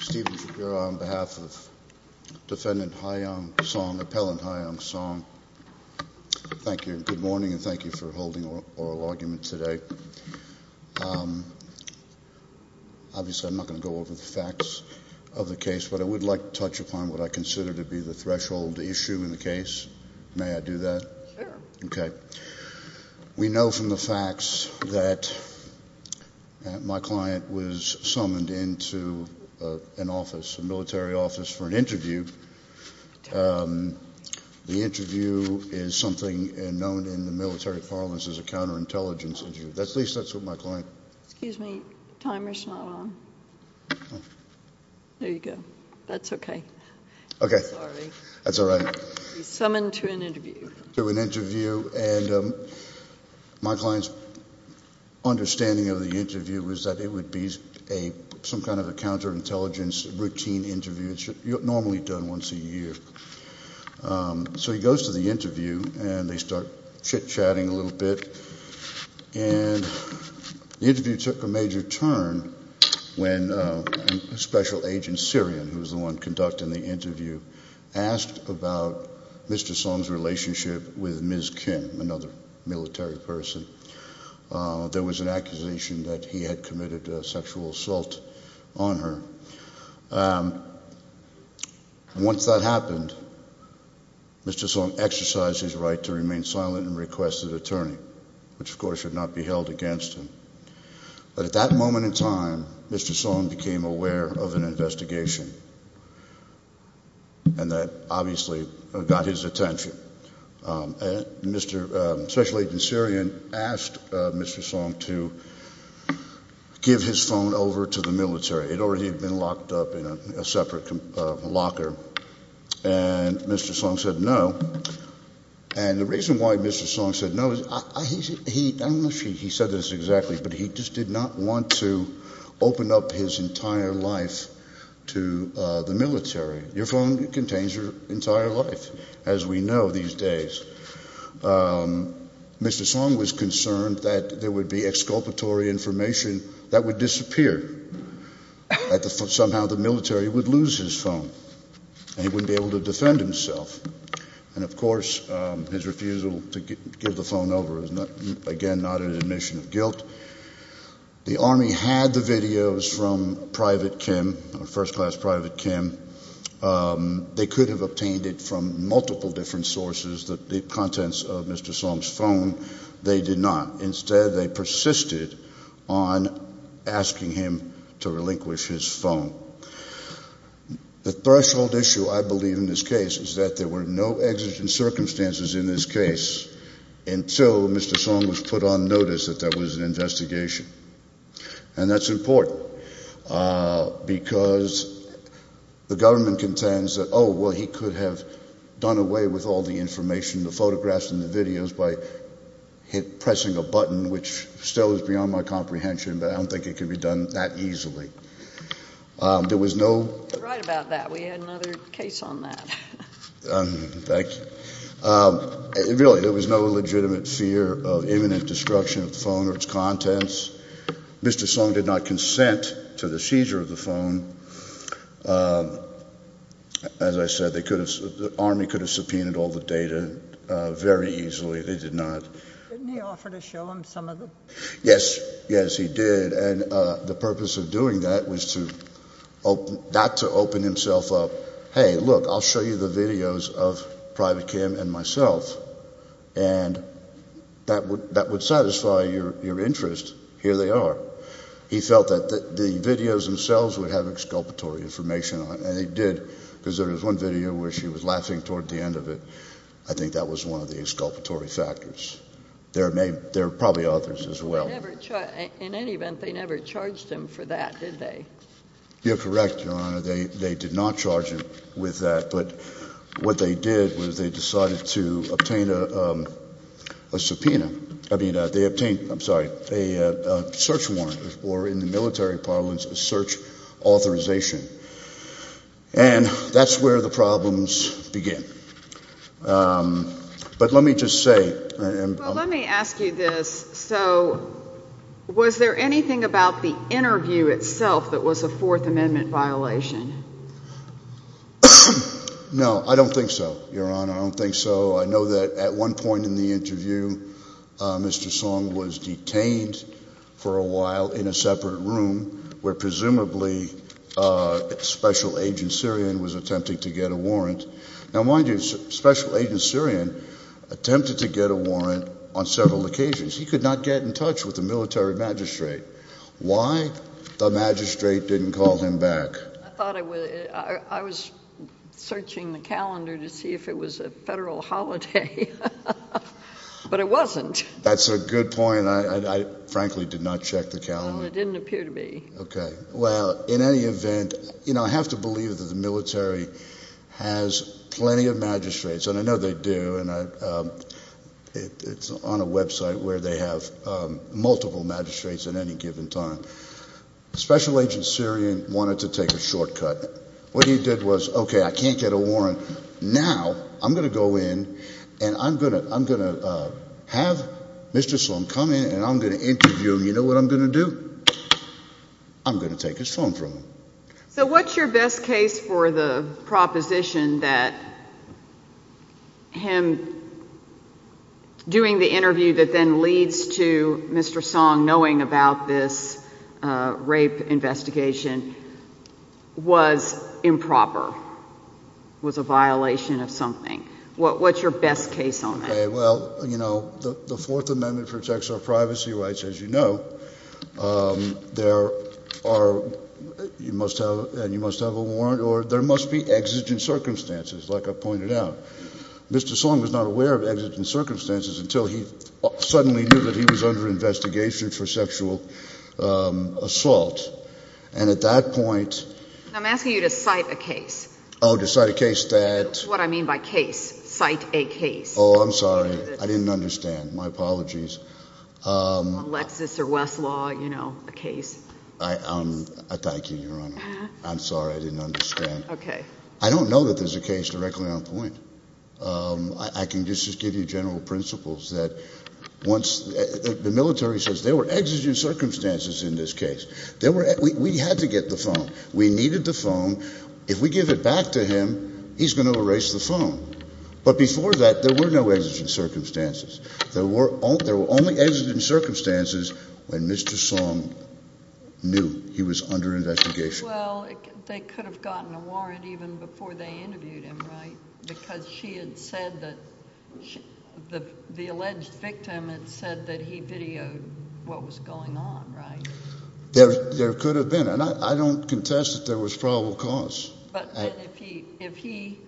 Steven Shapiro on behalf of defendant Ha-Young Song, appellant Ha-Young Song, thank you and good morning and thank you for holding oral argument today. Obviously I'm not going to go over the facts of the case but I would like to touch upon what I consider to be the threshold issue in the case. May I do that? Sure. Sure. Okay. We know from the facts that my client was summoned into an office, a military office for an interview. The interview is something known in the military parlance as a counter-intelligence interview. At least that's what my client... Excuse me, timer's not on. There you go. That's okay. Sorry. That's all right. Summoned to an interview. To an interview. To an interview. And my client's understanding of the interview was that it would be some kind of a counter-intelligence routine interview. It's normally done once a year. So he goes to the interview and they start chit-chatting a little bit and the interview took a major turn when a special agent, Syrian, who's the one conducting the interview, asked about Mr. Song's relationship with Ms. Kim, another military person. There was an accusation that he had committed a sexual assault on her. Once that happened, Mr. Song exercised his right to remain silent and requested an attorney, which of course should not be held against him. But at that moment in time, Mr. Song became aware of an investigation and that obviously got his attention. Mr. Special Agent Syrian asked Mr. Song to give his phone over to the military. It already had been locked up in a separate locker and Mr. Song said no. And the reason why Mr. Song said no is, I don't know if he said this exactly, but he just did not want to open up his entire life to the military. Your phone contains your entire life, as we know these days. Mr. Song was concerned that there would be exculpatory information that would disappear. That somehow the military would lose his phone and he wouldn't be able to defend himself. And of course, his refusal to give the phone over is, again, not an admission of guilt. The Army had the videos from Private Kim, first class Private Kim. They could have obtained it from multiple different sources, the contents of Mr. Song's phone. They did not. Instead, they persisted on asking him to relinquish his phone. The threshold issue, I believe, in this case is that there were no exigent circumstances in this case until Mr. Song was put on notice that there was an investigation. And that's important because the government contends that, oh, well, he could have done away with all the information, the photographs and the videos, by pressing a button, which still is beyond my comprehension, but I don't think it could be done that easily. There was no... You're right about that. We had another case on that. Thank you. Really, there was no legitimate fear of imminent destruction of the phone or its contents. Mr. Song did not consent to the seizure of the phone. As I said, the Army could have subpoenaed all the data very easily. They did not. Didn't he offer to show them some of them? Yes. Yes, he did. And the purpose of doing that was not to open himself up, hey, look, I'll show you the videos of Private Kim and myself, and that would satisfy your interest. Here they are. He felt that the videos themselves would have exculpatory information on it, and they did, because there was one video where she was laughing toward the end of it. I think that was one of the exculpatory factors. There are probably others as well. In any event, they never charged him for that, did they? You're correct, Your Honor. They did not charge him with that, but what they did was they decided to obtain a subpoena. I mean, they obtained, I'm sorry, a search warrant, or in the military parlance, a search authorization. And that's where the problems begin. But let me just say— Well, let me ask you this. So was there anything about the interview itself that was a Fourth Amendment violation? No, I don't think so, Your Honor. I don't think so. I know that at one point in the interview, Mr. Song was detained for a while in a separate room where presumably Special Agent Sirian was attempting to get a warrant. Now, mind you, Special Agent Sirian attempted to get a warrant on several occasions. He could not get in touch with the military magistrate. Why the magistrate didn't call him back? I thought I was searching the calendar to see if it was a federal holiday, but it wasn't. That's a good point. I frankly did not check the calendar. Well, it didn't appear to be. Okay. Well, in any event, you know, I have to believe that the military has plenty of magistrates, and I know they do, and it's on a website where they have multiple magistrates at any given time. Special Agent Sirian wanted to take a shortcut. What he did was, okay, I can't get a warrant. Now, I'm going to go in, and I'm going to have Mr. Song come in, and I'm going to interview him. You know what I'm going to do? I'm going to take his phone from him. So what's your best case for the proposition that him doing the interview that then leads to Mr. Song knowing about this rape investigation was improper, was a violation of something? What's your best case on that? Okay. Well, you know, the Fourth Amendment protects our privacy rights, as you know. There are—you must have a warrant, or there must be exigent circumstances, like I pointed out. Mr. Song was not aware of exigent circumstances until he suddenly knew that he was under investigation for sexual assault, and at that point— I'm asking you to cite a case. Oh, to cite a case that— That's what I mean by case. Cite a case. Oh, I'm sorry. I didn't understand. My apologies. On Lexis or Westlaw, you know, a case. I thank you, Your Honor. I'm sorry. I didn't understand. Okay. I don't know that there's a case directly on point. I can just give you general principles that once—the military says there were exigent circumstances in this case. We had to get the phone. We needed the phone. If we give it back to him, he's going to erase the phone. But before that, there were no exigent circumstances. There were only exigent circumstances when Mr. Song knew he was under investigation. Well, they could have gotten a warrant even before they interviewed him, right? Because she had said that—the alleged victim had said that he videoed what was going on, right? There could have been. And I don't contest that there was probable cause. But if he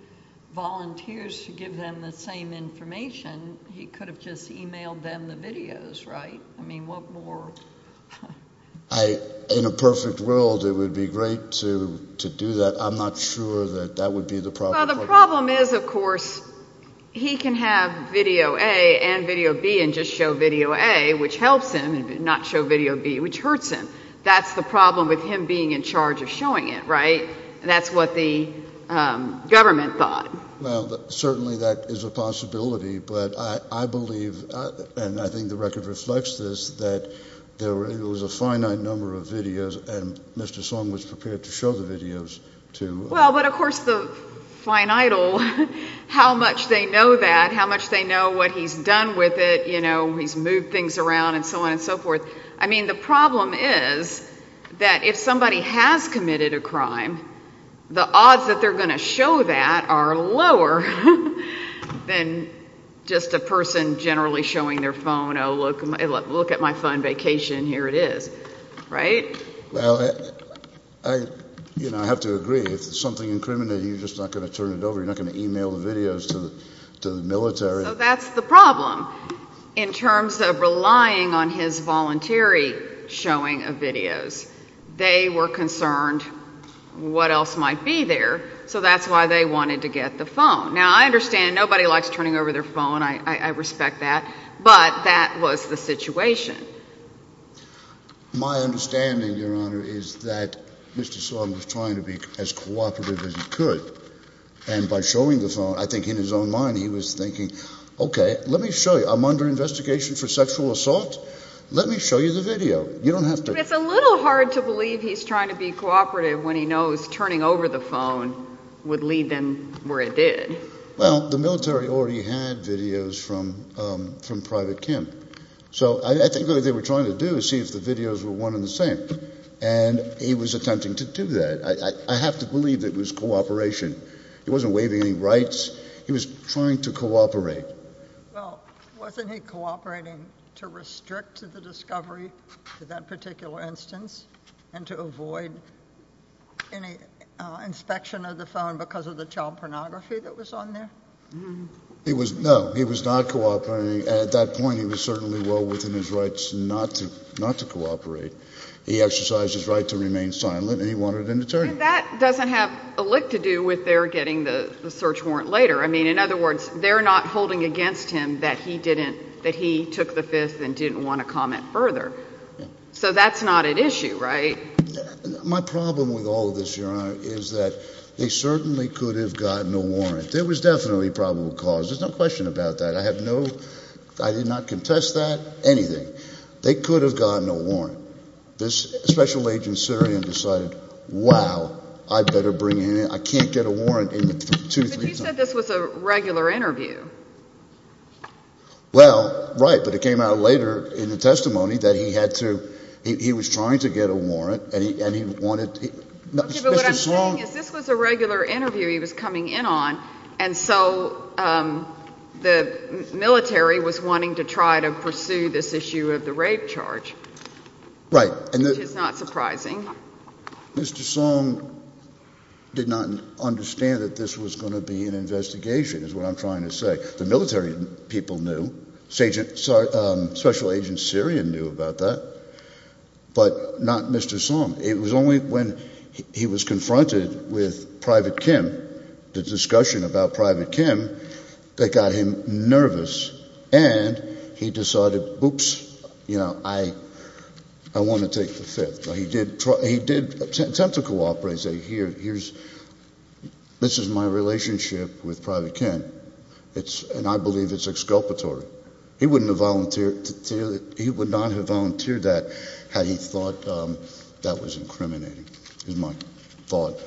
volunteers to give them the same information, he could have just emailed them the videos, right? I mean, what more— In a perfect world, it would be great to do that. I'm not sure that that would be the problem. Well, the problem is, of course, he can have video A and video B and just show video A, which helps him, and not show video B, which hurts him. That's the problem with him being in charge of showing it, right? That's what the government thought. Well, certainly that is a possibility. But I believe, and I think the record reflects this, that there was a finite number of videos, and Mr. Song was prepared to show the videos to— Well, but of course, the fine idol, how much they know that, how much they know what he's done with it, you know, he's moved things around and so on and so forth. I mean, the problem is that if somebody has committed a crime, the odds that they're lower than just a person generally showing their phone, oh, look at my fun vacation, here it is, right? Well, I, you know, I have to agree, if something incriminating, you're just not going to turn it over, you're not going to email the videos to the military. So that's the problem. In terms of relying on his voluntary showing of videos, they were concerned what else might be there, so that's why they wanted to get the phone. Now, I understand nobody likes turning over their phone, I respect that, but that was the situation. My understanding, Your Honor, is that Mr. Song was trying to be as cooperative as he could, and by showing the phone, I think in his own mind he was thinking, okay, let me show you, I'm under investigation for sexual assault, let me show you the video. You don't have to— But it's a little hard to believe he's trying to be cooperative when he knows turning over the phone would lead them where it did. Well, the military already had videos from Private Kim, so I think what they were trying to do was see if the videos were one and the same, and he was attempting to do that. I have to believe that it was cooperation, he wasn't waiving any rights, he was trying to cooperate. Well, wasn't he cooperating to restrict the discovery to that particular instance, and to avoid any inspection of the phone because of the child pornography that was on there? He was—no, he was not cooperating, and at that point he was certainly well within his rights not to cooperate. He exercised his right to remain silent, and he wanted an attorney. That doesn't have a lick to do with their getting the search warrant later, I mean, in other words, they're not holding against him that he took the Fifth and didn't want to comment further. So that's not an issue, right? My problem with all of this, Your Honor, is that they certainly could have gotten a warrant. There was definitely probable cause, there's no question about that, I have no—I did not contest that, anything. They could have gotten a warrant. This special agent Syrian decided, wow, I'd better bring in—I can't get a warrant in two, three times. But you said this was a regular interview. Well, right, but it came out later in the testimony that he had to—he was trying to get a warrant, and he wanted—Mr. Song— Okay, but what I'm saying is this was a regular interview he was coming in on, and so the military was wanting to try to pursue this issue of the rape charge. Right. Which is not surprising. Mr. Song did not understand that this was going to be an investigation, is what I'm trying to say. The military people knew. Special agent Syrian knew about that, but not Mr. Song. It was only when he was confronted with Private Kim, the discussion about Private Kim, that got him nervous, and he decided, oops, you know, I want to take the Fifth. He did attempt to cooperate, say, here's—this is my relationship with Private Kim, and I believe it's exculpatory. He wouldn't have volunteered—he would not have volunteered that had he thought that was incriminating, is my thought.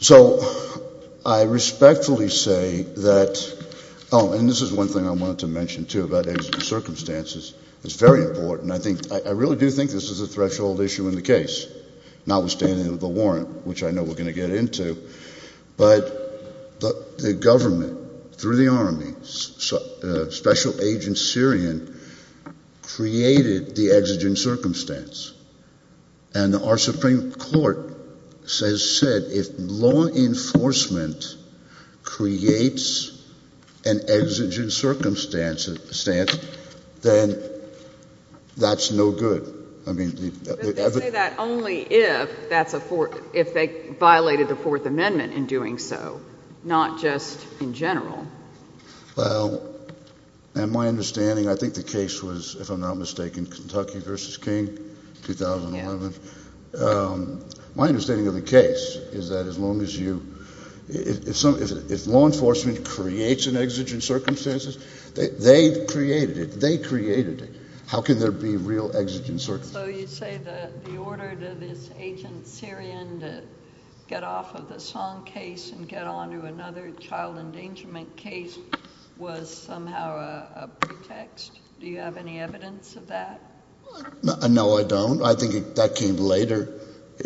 So I respectfully say that—oh, and this is one thing I wanted to mention, too, about the exigent circumstances. It's very important. I really do think this is a threshold issue in the case, notwithstanding the warrant, which I know we're going to get into, but the government, through the Army, Special Agent Syrian created the exigent circumstance, and our Supreme Court has said if law enforcement creates an exigent circumstance, then that's no good. I mean— But they say that only if that's a—if they violated the Fourth Amendment in doing so, not just in general. Well, my understanding—I think the case was, if I'm not mistaken, Kentucky v. King, 2011. Yeah. My understanding of the case is that as long as you—if law enforcement creates an exigent circumstance, they've created it. They created it. How can there be real exigent circumstances? So you say that the order to this Agent Syrian to get off of the Song case and get on to another child endangerment case was somehow a pretext? Do you have any evidence of that? No, I don't. I think that came later,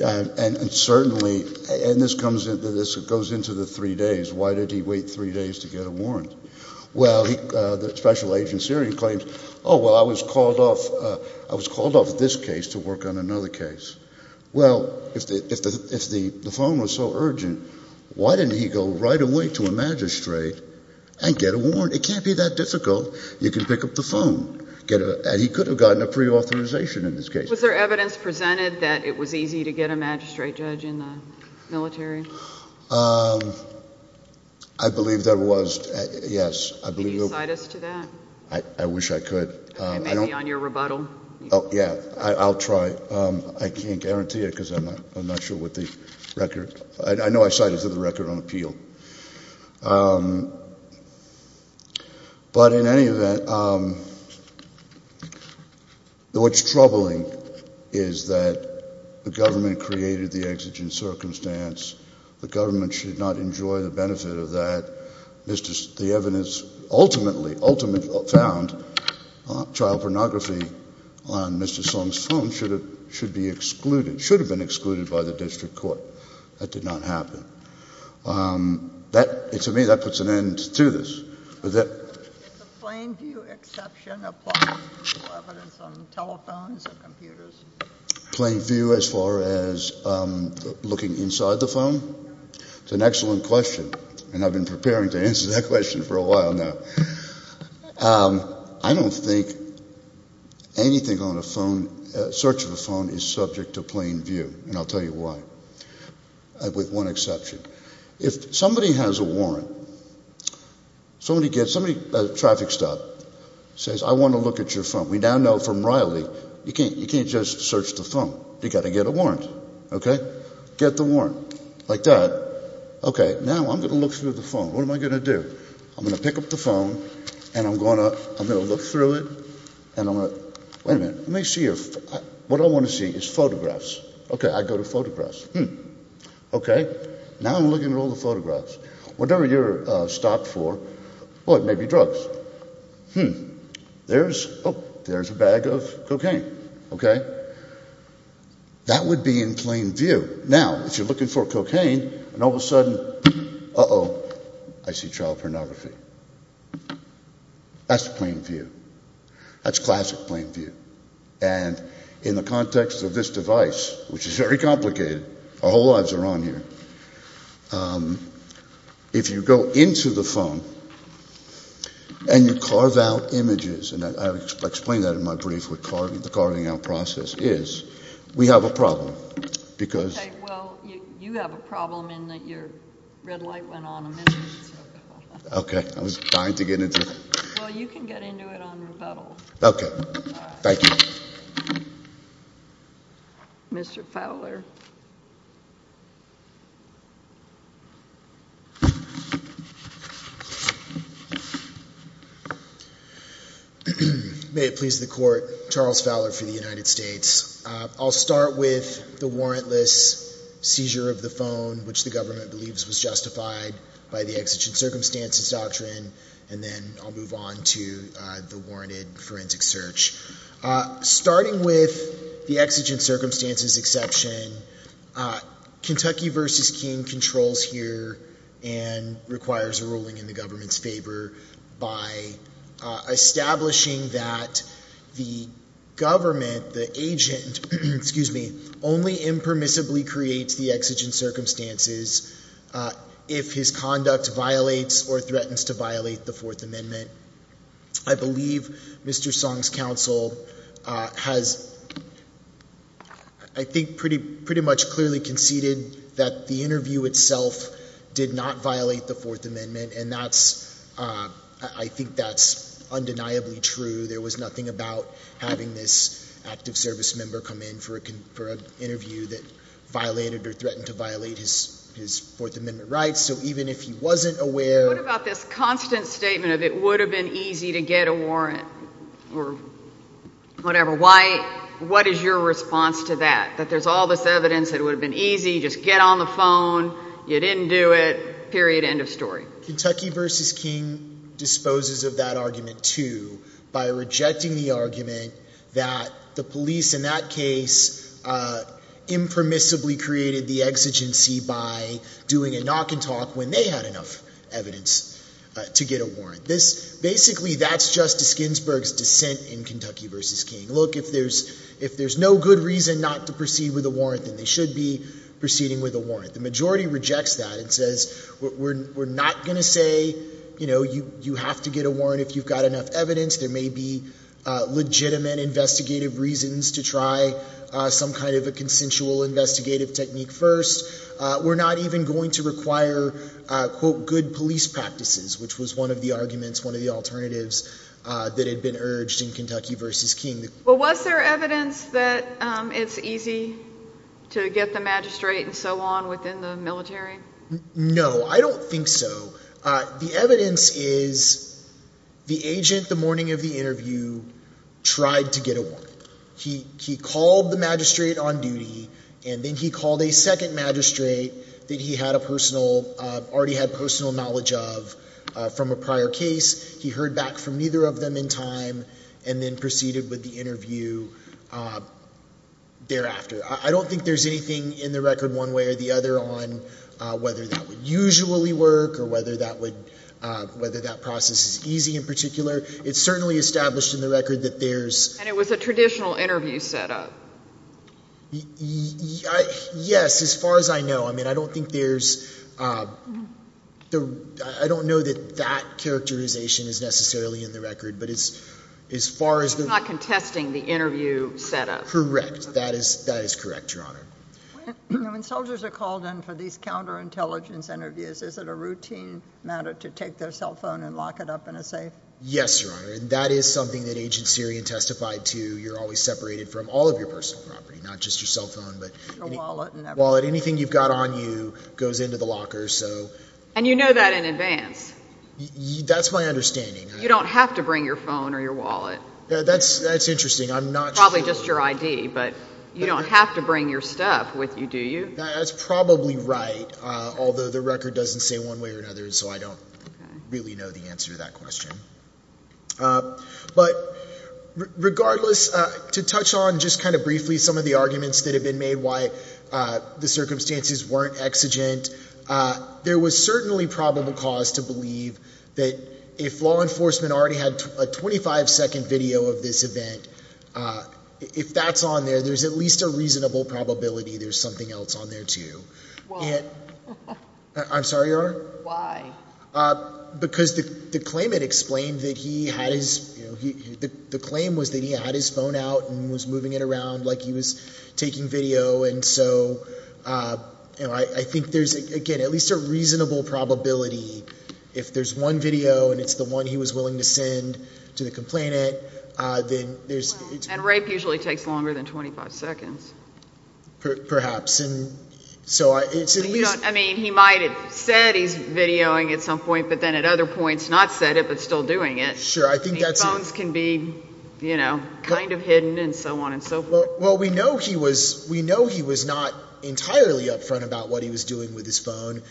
and certainly—and this goes into the three days. Why did he wait three days to get a warrant? Well, the Special Agent Syrian claims, oh, well, I was called off this case to work on another case. Well, if the phone was so urgent, why didn't he go right away to a magistrate and get a warrant? It can't be that difficult. You can pick up the phone. And he could have gotten a preauthorization in this case. Was there evidence presented that it was easy to get a magistrate judge in the military? I believe there was, yes. Can you cite us to that? I wish I could. Maybe on your rebuttal? Oh, yeah. I'll try. I can't guarantee it because I'm not sure with the record. I know I cited it to the record on appeal. But in any event, what's troubling is that the government created the exigent circumstance. The government should not enjoy the benefit of that. The evidence ultimately found child pornography on Mr. Song's phone should be excluded—should have been excluded by the district court. That did not happen. To me, that puts an end to this. Was that— It's a plain view exception, applying to evidence on telephones and computers. Plain view as far as looking inside the phone? It's an excellent question. And I've been preparing to answer that question for a while now. I don't think anything on a phone, search of a phone, is subject to plain view. And I'll tell you why. With one exception. If somebody has a warrant, somebody gets—somebody—a traffic stop says, I want to look at your phone. We now know from Riley, you can't just search the phone. You've got to get a warrant. OK? Get the warrant. Like that. OK, now I'm going to look through the phone. What am I going to do? I'm going to pick up the phone, and I'm going to look through it, and I'm going to— Wait a minute. Let me see if—what I want to see is photographs. OK, I go to photographs. Hmm. OK, now I'm looking at all the photographs. Whatever you're stopped for, well, it may be drugs. Hmm. There's—oh, there's a bag of cocaine. OK? That would be in plain view. Now, if you're looking for cocaine, and all of a sudden, uh-oh, I see child pornography. That's plain view. That's classic plain view. And in the context of this device, which is very complicated, our whole lives are on here. If you go into the phone, and you carve out images, and I explained that in my brief, what the carving out process is, we have a problem, because— OK, well, you have a problem in that your red light went on a minute ago. OK, I was trying to get into it. Well, you can get into it on rebuttal. OK. Thank you. Mr. Fowler. May it please the Court, Charles Fowler for the United States. I'll start with the warrantless seizure of the phone, which the government believes was justified by the Exigent Circumstances Doctrine, and then I'll move on to the warranted forensic search. Starting with the Exigent Circumstances exception, Kentucky v. King controls here and requires a ruling in the government's favor by establishing that the government, the agent, excuse me, only impermissibly creates the Exigent Circumstances if his conduct violates or threatens to violate the Fourth Amendment. I believe Mr. Song's counsel has, I think, pretty much clearly conceded that the interview itself did not violate the Fourth Amendment, and I think that's undeniably true. There was nothing about having this active service member come in for an interview that violated or threatened to violate his Fourth Amendment rights. So even if he wasn't aware— What about this constant statement of it would have been easy to get a warrant or whatever? What is your response to that, that there's all this evidence that it would have been easy, just get on the phone, you didn't do it, period, end of story? Kentucky v. King disposes of that argument, too, by rejecting the argument that the police, in that case, impermissibly created the exigency by doing a knock-and-talk when they had enough evidence to get a warrant. Basically, that's Justice Ginsburg's dissent in Kentucky v. King. Look, if there's no good reason not to proceed with a warrant, then they should be proceeding with a warrant. The majority rejects that and says we're not going to say you have to get a warrant if you've got enough evidence. There may be legitimate investigative reasons to try some kind of a consensual investigative technique first. We're not even going to require, quote, good police practices, which was one of the arguments, one of the alternatives that had been urged in Kentucky v. King. Well, was there evidence that it's easy to get the magistrate and so on within the military? No, I don't think so. The evidence is the agent the morning of the interview tried to get a warrant. He called the magistrate on duty, and then he called a second magistrate that he had a personal, already had personal knowledge of from a prior case. He heard back from neither of them in time and then proceeded with the interview thereafter. I don't think there's anything in the record one way or the other on whether that would usually work or whether that would, whether that process is easy in particular. It's certainly established in the record that there's. And it was a traditional interview setup. Yes, as far as I know. I mean, I don't think there's, I don't know that that characterization is necessarily in the record, but as far as the. It's not contesting the interview setup. Correct. That is correct, Your Honor. When soldiers are called in for these counterintelligence interviews, is it a routine matter to take their cell phone and lock it up in a safe? Yes, Your Honor, and that is something that Agent Sirian testified to. You're always separated from all of your personal property, not just your cell phone. Your wallet and everything. Wallet, anything you've got on you goes into the locker, so. And you know that in advance. That's my understanding. You don't have to bring your phone or your wallet. That's interesting. I'm not sure. Probably just your ID, but you don't have to bring your stuff with you, do you? That's probably right, although the record doesn't say one way or another, so I don't really know the answer to that question. But regardless, to touch on just kind of briefly some of the arguments that have been made why the circumstances weren't exigent, there was certainly probable cause to believe that if law enforcement already had a 25-second video of this event, if that's on there, there's at least a reasonable probability there's something else on there, too. Why? I'm sorry, Your Honor? Why? Because the claim had explained that he had his phone out and was moving it around like he was taking video, and so I think there's, again, at least a reasonable probability if there's one video and it's the one he was willing to send to the complainant. And rape usually takes longer than 25 seconds. Perhaps. I mean, he might have said he's videoing at some point, but then at other points not said it but still doing it. Sure, I think that's it. I mean, phones can be kind of hidden and so on and so forth. Well, we know he was not entirely upfront about what he was doing with his phone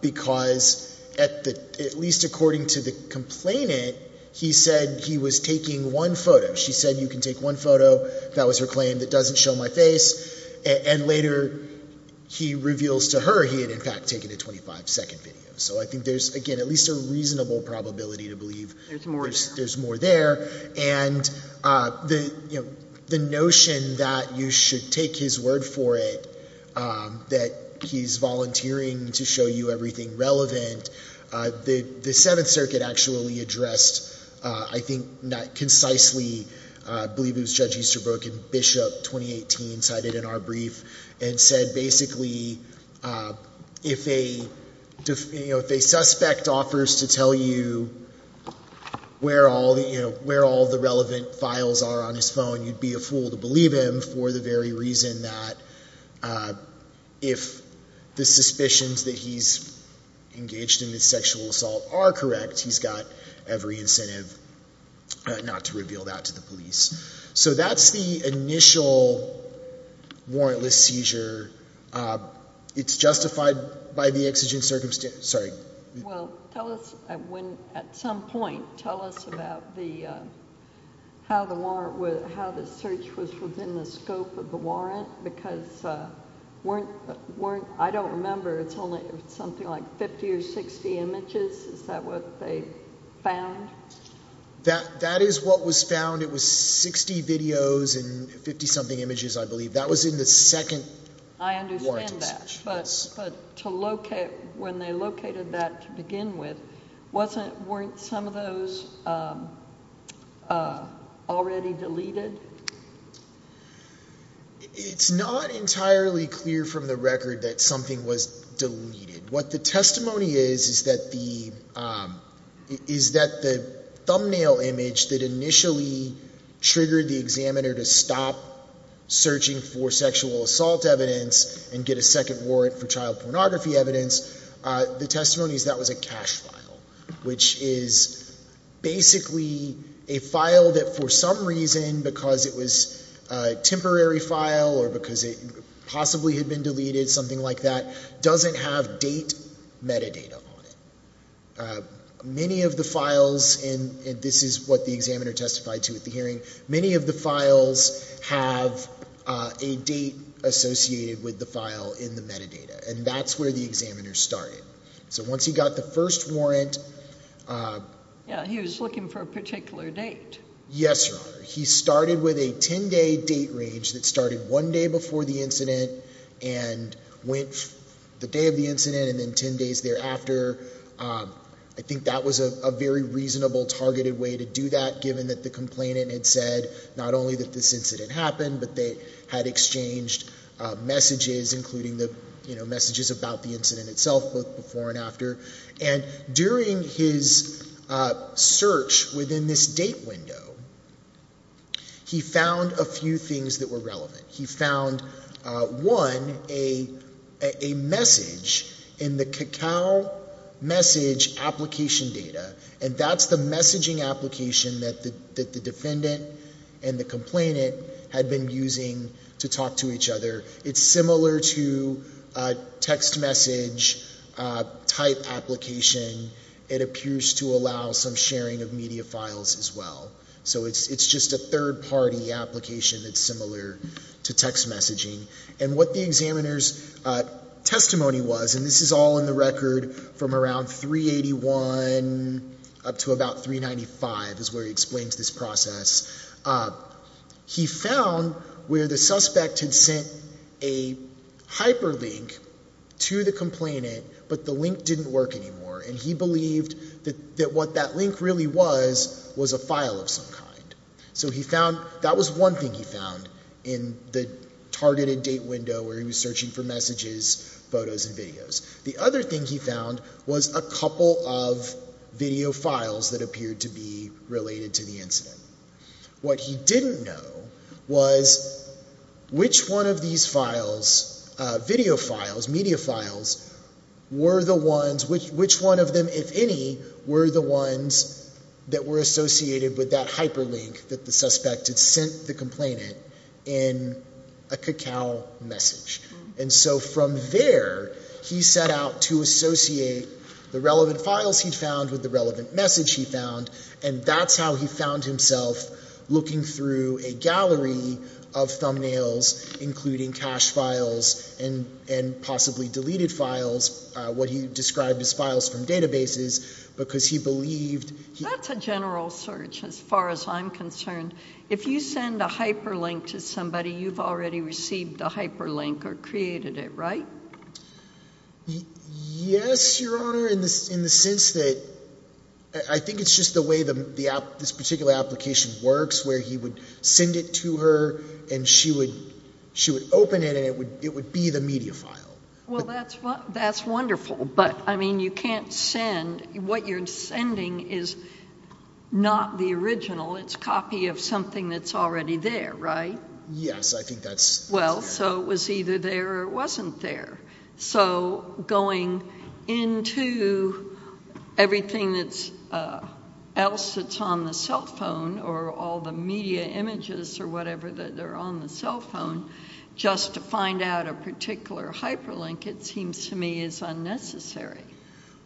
because at least according to the complainant, he said he was taking one photo. She said, you can take one photo, that was her claim, that doesn't show my face, and later he reveals to her he had, in fact, taken a 25-second video. So I think there's, again, at least a reasonable probability to believe there's more there. And the notion that you should take his word for it, that he's volunteering to show you everything relevant, the Seventh Circuit actually addressed, I think not concisely, I believe it was Judge Easterbrook in Bishop 2018 cited in our brief and said basically if a suspect offers to tell you where all the relevant files are on his phone, you'd be a fool to believe him for the very reason that if the suspicions that he's engaged in this sexual assault are correct, he's got every incentive not to reveal that to the police. So that's the initial warrantless seizure. It's justified by the exigent circumstances. Well, at some point tell us about how the search was within the scope of the warrant because I don't remember, it's something like 50 or 60 images, is that what they found? That is what was found. It was 60 videos and 50-something images, I believe. That was in the second warrantless search. I understand that, but when they located that to begin with, weren't some of those already deleted? It's not entirely clear from the record that something was deleted. What the testimony is is that the thumbnail image that initially triggered the examiner to stop searching for sexual assault evidence and get a second warrant for child pornography evidence, the testimony is that was a cache file, which is basically a file that for some reason because it was a temporary file or because it possibly had been deleted, something like that, doesn't have date metadata on it. Many of the files, and this is what the examiner testified to at the hearing, many of the files have a date associated with the file in the metadata, and that's where the examiner started. So once he got the first warrant... Yeah, he was looking for a particular date. Yes, Your Honor. He started with a 10-day date range that started one day before the incident and went the day of the incident and then 10 days thereafter. I think that was a very reasonable targeted way to do that given that the complainant had said not only that this incident happened, but they had exchanged messages, including messages about the incident itself, both before and after. And during his search within this date window, he found a few things that were relevant. He found, one, a message in the cacao message application data, and that's the messaging application that the defendant and the complainant had been using to talk to each other. It's similar to a text message type application. It appears to allow some sharing of media files as well. So it's just a third-party application that's similar to text messaging. And what the examiner's testimony was, and this is all in the record from around 381 up to about 395 is where he explains this process. He found where the suspect had sent a hyperlink to the complainant, but the link didn't work anymore, and he believed that what that link really was was a file of some kind. So that was one thing he found in the targeted date window where he was searching for messages, photos, and videos. The other thing he found was a couple of video files that appeared to be related to the incident. What he didn't know was which one of these files, video files, media files, were the ones, which one of them, if any, were the ones that were associated with that hyperlink that the suspect had sent the complainant in a cacao message. And so from there he set out to associate the relevant files he'd found with the relevant message he'd found, and that's how he found himself looking through a gallery of thumbnails including cache files and possibly deleted files, what he described as files from databases, because he believed... That's a general search as far as I'm concerned. If you send a hyperlink to somebody, you've already received the hyperlink or created it, right? Yes, Your Honor, in the sense that I think it's just the way this particular application works, where he would send it to her and she would open it and it would be the media file. Well, that's wonderful, but, I mean, you can't send... What you're sending is not the original. It's a copy of something that's already there, right? Yes, I think that's... Well, so it was either there or it wasn't there. So going into everything else that's on the cell phone or all the media images or whatever that are on the cell phone, just to find out a particular hyperlink, it seems to me is unnecessary.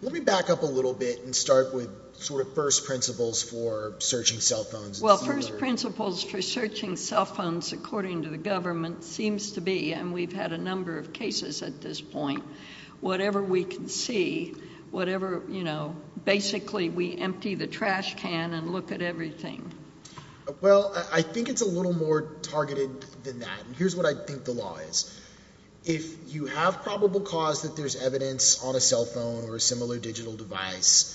Let me back up a little bit and start with sort of first principles for searching cell phones. Well, first principles for searching cell phones, according to the government, seems to be, and we've had a number of cases at this point, whatever we can see, whatever, you know, Well, I think it's a little more targeted than that, and here's what I think the law is. If you have probable cause that there's evidence on a cell phone or a similar digital device,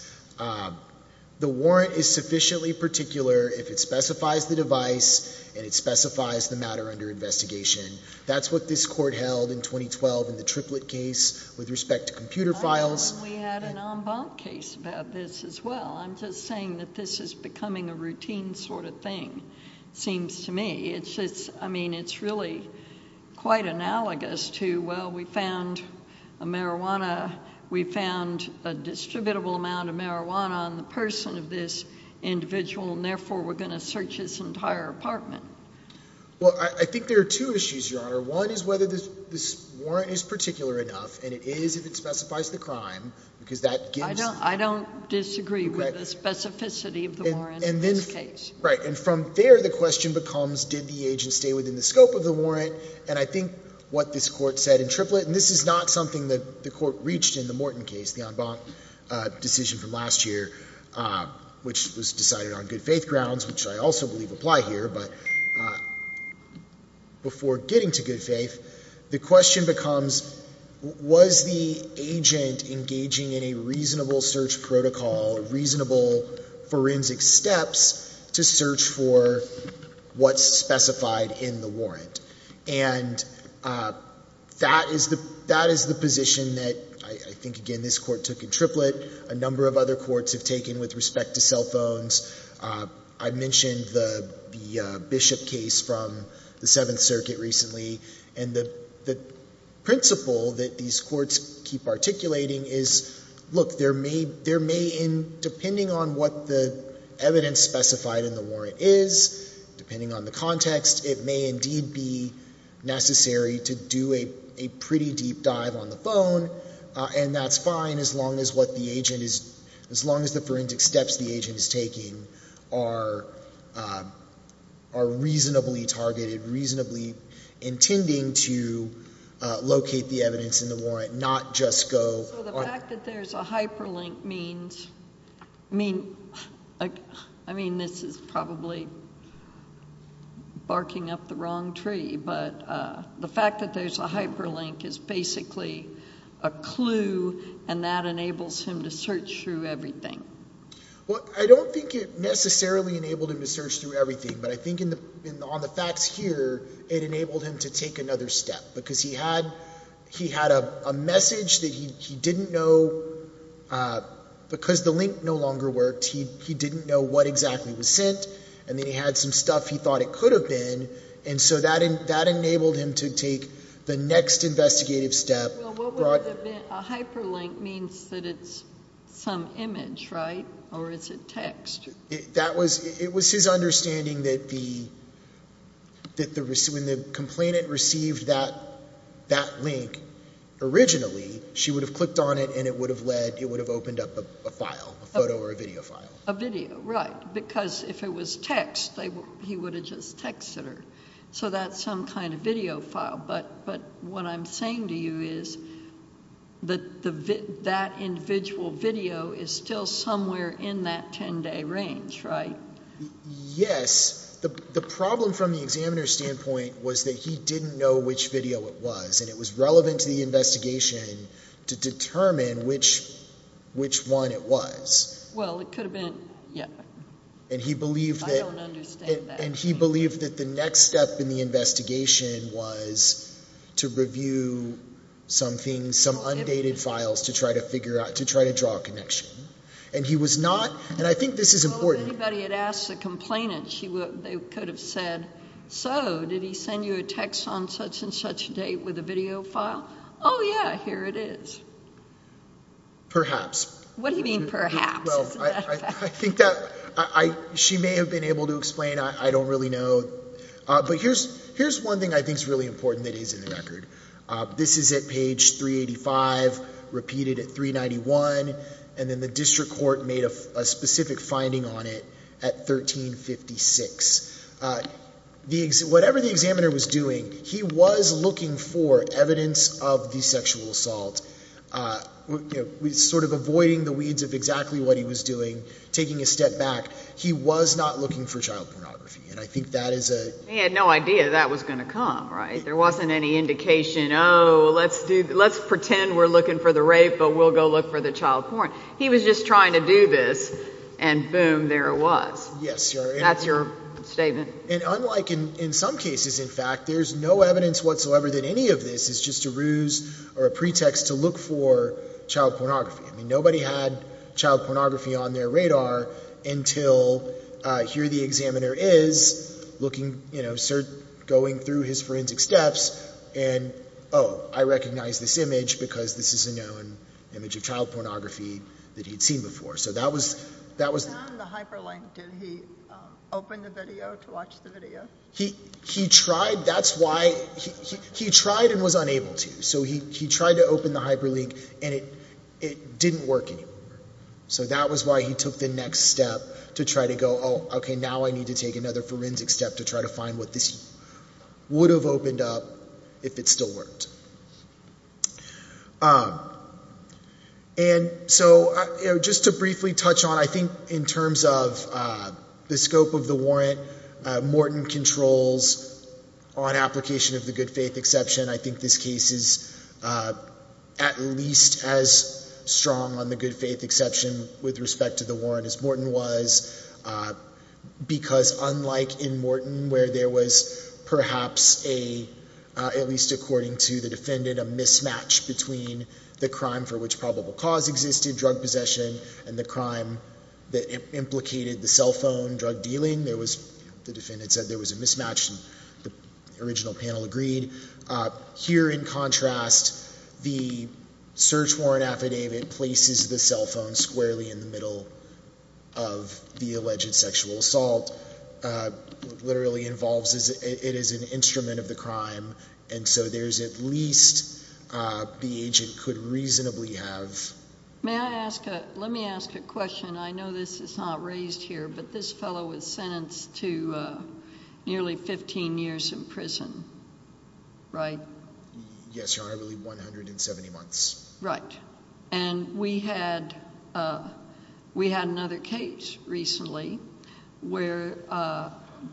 the warrant is sufficiently particular if it specifies the device and it specifies the matter under investigation. That's what this court held in 2012 in the triplet case with respect to computer files. We had an en banc case about this as well. I'm just saying that this is becoming a routine sort of thing, seems to me. It's just, I mean, it's really quite analogous to, well, we found a marijuana, we found a distributable amount of marijuana on the person of this individual and therefore we're going to search his entire apartment. Well, I think there are two issues, Your Honor. One is whether this warrant is particular enough, and it is if it specifies the crime because that gives Well, I don't disagree with the specificity of the warrant in this case. Right, and from there the question becomes did the agent stay within the scope of the warrant, and I think what this court said in triplet, and this is not something that the court reached in the Morton case, the en banc decision from last year, which was decided on good faith grounds, which I also believe apply here, but before getting to good faith, the question becomes was the agent engaging in a reasonable search protocol, reasonable forensic steps to search for what's specified in the warrant, and that is the position that I think, again, this court took in triplet. A number of other courts have taken with respect to cell phones. I mentioned the Bishop case from the Seventh Circuit recently, and the principle that these courts keep articulating is, look, depending on what the evidence specified in the warrant is, depending on the context, it may indeed be necessary to do a pretty deep dive on the phone, and that's fine as long as the forensic steps the agent is taking are reasonably targeted, reasonably intending to locate the evidence in the warrant, not just go. So the fact that there's a hyperlink means, I mean, this is probably barking up the wrong tree, but the fact that there's a hyperlink is basically a clue, and that enables him to search through everything. Well, I don't think it necessarily enabled him to search through everything, but I think on the facts here, it enabled him to take another step because he had a message that he didn't know. Because the link no longer worked, he didn't know what exactly was sent, and then he had some stuff he thought it could have been, and so that enabled him to take the next investigative step. A hyperlink means that it's some image, right? Or is it text? It was his understanding that when the complainant received that link originally, she would have clicked on it and it would have opened up a file, a photo or a video file. A video, right, because if it was text, he would have just texted her. So that's some kind of video file. But what I'm saying to you is that that individual video is still somewhere in that 10-day range, right? Yes. The problem from the examiner's standpoint was that he didn't know which video it was, and it was relevant to the investigation to determine which one it was. Well, it could have been, yeah. I don't understand that. And he believed that the next step in the investigation was to review something, some undated files to try to figure out, to try to draw a connection. And he was not, and I think this is important. If anybody had asked the complainant, they could have said, so did he send you a text on such and such date with a video file? Oh, yeah, here it is. Perhaps. What do you mean perhaps? Well, I think that she may have been able to explain. I don't really know. But here's one thing I think is really important that is in the record. This is at page 385, repeated at 391, and then the district court made a specific finding on it at 1356. Whatever the examiner was doing, he was looking for evidence of the sexual assault, sort of avoiding the weeds of exactly what he was doing, taking a step back. He was not looking for child pornography, and I think that is a... He had no idea that was going to come, right? There wasn't any indication, oh, let's pretend we're looking for the rape, but we'll go look for the child porn. He was just trying to do this, and boom, there it was. Yes. That's your statement. And unlike in some cases, in fact, there's no evidence whatsoever that any of this is just a ruse or a pretext to look for child pornography. Nobody had child pornography on their radar until here the examiner is, going through his forensic steps, and, oh, I recognize this image because this is a known image of child pornography that he'd seen before. So that was... Beyond the hyperlink, did he open the video to watch the video? He tried... That's why... He tried and was unable to. So he tried to open the hyperlink, and it didn't work anymore. So that was why he took the next step to try to go, oh, okay, now I need to take another forensic step to try to find what this would have opened up if it still worked. And so just to briefly touch on, I think in terms of the scope of the warrant, Morton controls on application of the good faith exception. I think this case is at least as strong on the good faith exception with respect to the warrant as Morton was because unlike in Morton, where there was perhaps a, at least according to the defendant, a mismatch between the crime for which probable cause existed, drug possession, and the crime that implicated the cell phone drug dealing, the defendant said there was a mismatch, and the original panel agreed. Here in contrast, the search warrant affidavit places the cell phone squarely in the middle of the alleged sexual assault, literally involves it as an instrument of the crime, and so there's at least the agent could reasonably have... May I ask a, let me ask a question. I know this is not raised here, but this fellow was sentenced to nearly 15 years in prison, right? Yes, Your Honor, really 170 months. Right. And we had another case recently where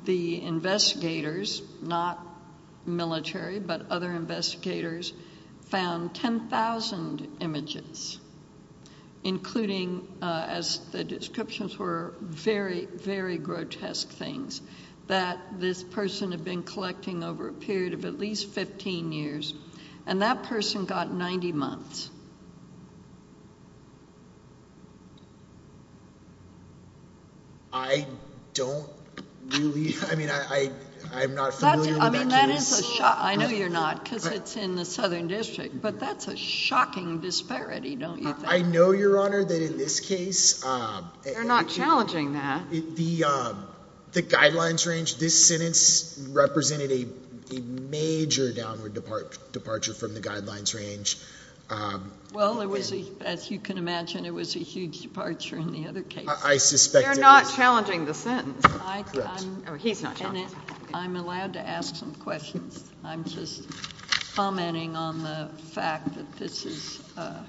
the investigators, not military, but other investigators found 10,000 images including, as the descriptions were, very, very grotesque things that this person had been collecting over a period of at least 15 years, and that person got 90 months. I don't really, I mean, I'm not familiar with that case. That is a shock, I know you're not, because it's in the Southern District, but that's a shocking disparity, don't you think? I know, Your Honor, that in this case... They're not challenging that. The guidelines range, this sentence represented a major downward departure from the guidelines range. Well, it was, as you can imagine, it was a huge departure in the other case. I suspect it was. Correct. He's not challenging the sentence. I'm allowed to ask some questions. I'm just commenting on the fact that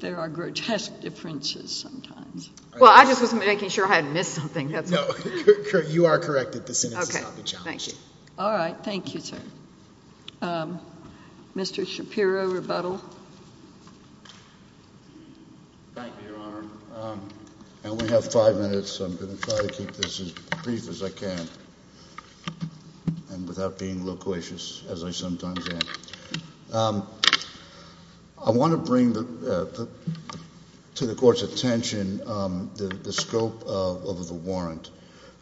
there are grotesque differences sometimes. Well, I just wasn't making sure I hadn't missed something. No, you are correct that the sentence is not being challenged. Okay, thank you. All right, thank you, sir. Mr. Shapiro, rebuttal. Thank you, Your Honor. And we have five minutes, so I'm going to try to keep this as brief as I can and without being loquacious, as I sometimes am. I want to bring to the Court's attention the scope of the warrant.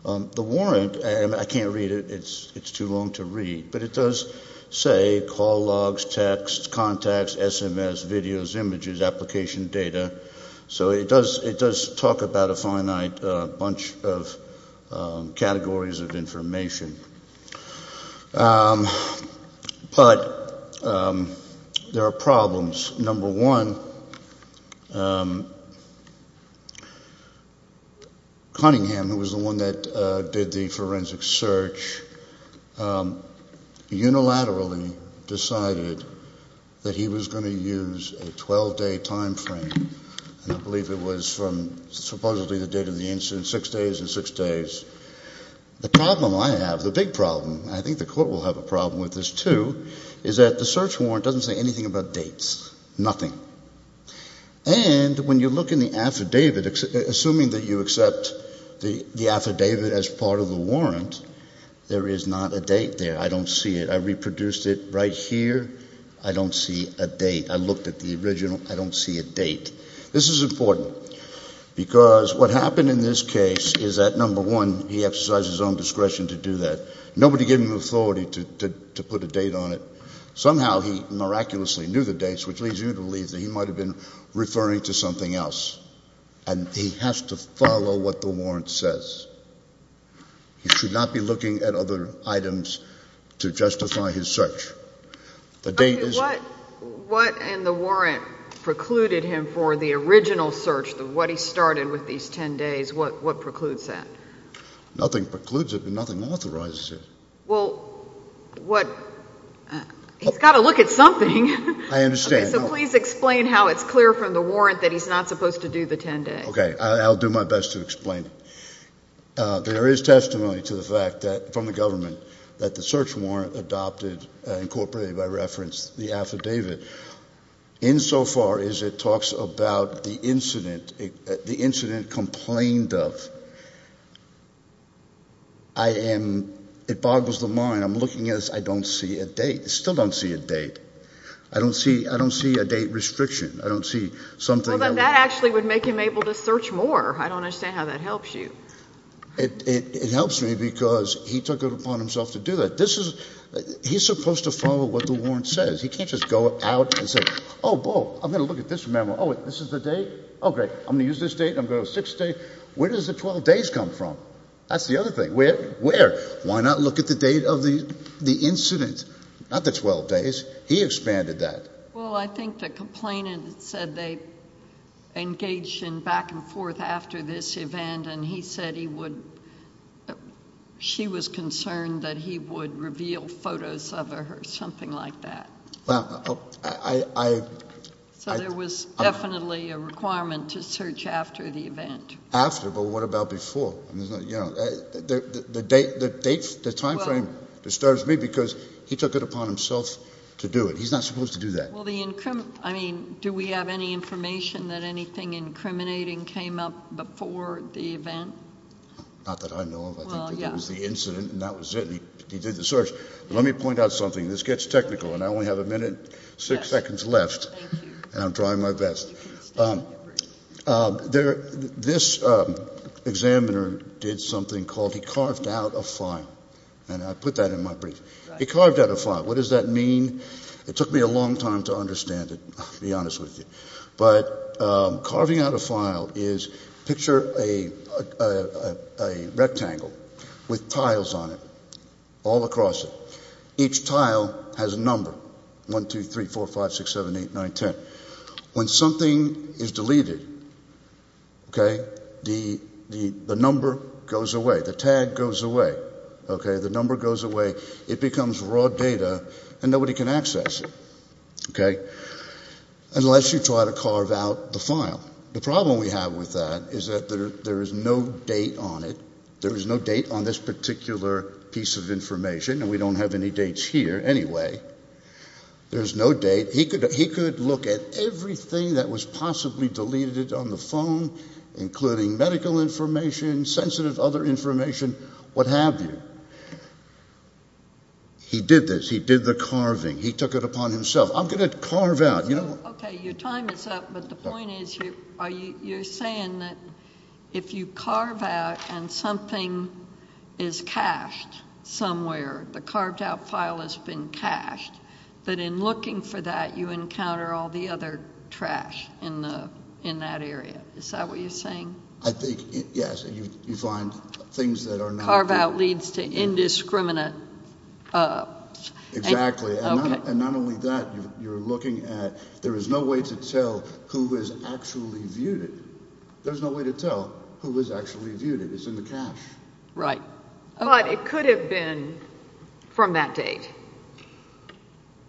The warrant, and I can't read it, it's too long to read, but it does say call logs, text, contacts, SMS, videos, images, application data. So it does talk about a finite bunch of categories of information. But there are problems. Number one, Cunningham, who was the one that did the forensic search, unilaterally decided that he was going to use a 12-day timeframe, and I believe it was from supposedly the date of the incident, six days and six days. The problem I have, the big problem, I think the Court will have a problem with this too, is that the search warrant doesn't say anything about dates, nothing. And when you look in the affidavit, assuming that you accept the affidavit as part of the warrant, there is not a date there. I don't see it. I reproduced it right here. I don't see a date. I looked at the original. I don't see a date. This is important because what happened in this case is that, number one, he exercised his own discretion to do that. Nobody gave him the authority to put a date on it. Somehow he miraculously knew the dates, which leads you to believe that he might have been referring to something else. And he has to follow what the warrant says. He should not be looking at other items to justify his search. The date isn't. What in the warrant precluded him for the original search, what he started with these 10 days, what precludes that? Nothing precludes it and nothing authorizes it. Well, what he's got to look at something. I understand. So please explain how it's clear from the warrant that he's not supposed to do the 10 days. Okay. I'll do my best to explain. There is testimony to the fact that, from the government, that the search warrant adopted incorporated by reference the affidavit. Insofar as it talks about the incident, the incident complained of, I am, it boggles the mind. I'm looking at this. I don't see a date. I still don't see a date. I don't see a date restriction. I don't see something. Well, then that actually would make him able to search more. I don't understand how that helps you. It helps me because he took it upon himself to do that. This is, he's supposed to follow what the warrant says. He can't just go out and say, oh, I'm going to look at this memo. Oh, this is the date. Oh, great. I'm going to use this date. I'm going to go six days. Where does the 12 days come from? That's the other thing. Where? Why not look at the date of the incident, not the 12 days? He expanded that. Well, I think the complainant said they engaged in back and forth after this event, and he said he would, she was concerned that he would reveal photos of her, something like that. Well, I... So there was definitely a requirement to search after the event. After, but what about before? The date, the time frame disturbs me because he took it upon himself to do it. He's not supposed to do that. Well, the... I mean, do we have any information that anything incriminating came up before the event? Not that I know of. I think that that was the incident and that was it, and he did the search. Let me point out something. This gets technical, and I only have a minute, six seconds left, and I'm trying my best. This examiner did something called he carved out a file, and I put that in my brief. He carved out a file. What does that mean? It took me a long time to understand it, to be honest with you. But carving out a file is, picture a rectangle with tiles on it all across it. Each tile has a number, 1, 2, 3, 4, 5, 6, 7, 8, 9, 10. When something is deleted, the number goes away. The tag goes away. The number goes away. It becomes raw data, and nobody can access it, unless you try to carve out the file. The problem we have with that is that there is no date on it. There is no date on this particular piece of information, and we don't have any dates here anyway. There's no date. He could look at everything that was possibly deleted on the phone, including medical information, sensitive other information, what have you. He did this. He did the carving. He took it upon himself. I'm going to carve out. Okay, your time is up, but the point is you're saying that if you carve out and something is cached somewhere, the carved out file has been cached, that in looking for that, you encounter all the other trash in that area. Is that what you're saying? I think, yes, you find things that are not there. It's indiscriminate. Exactly, and not only that, you're looking at there is no way to tell who has actually viewed it. There's no way to tell who has actually viewed it. It's in the cache. Right. But it could have been from that date.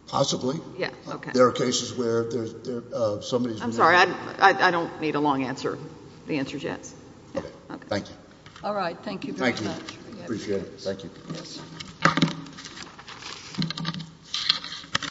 Possibly. Yes, okay. There are cases where there's somebody's. I'm sorry. I don't need a long answer. The answer's yes. Okay, thank you. All right, thank you very much. Appreciate it. Thank you.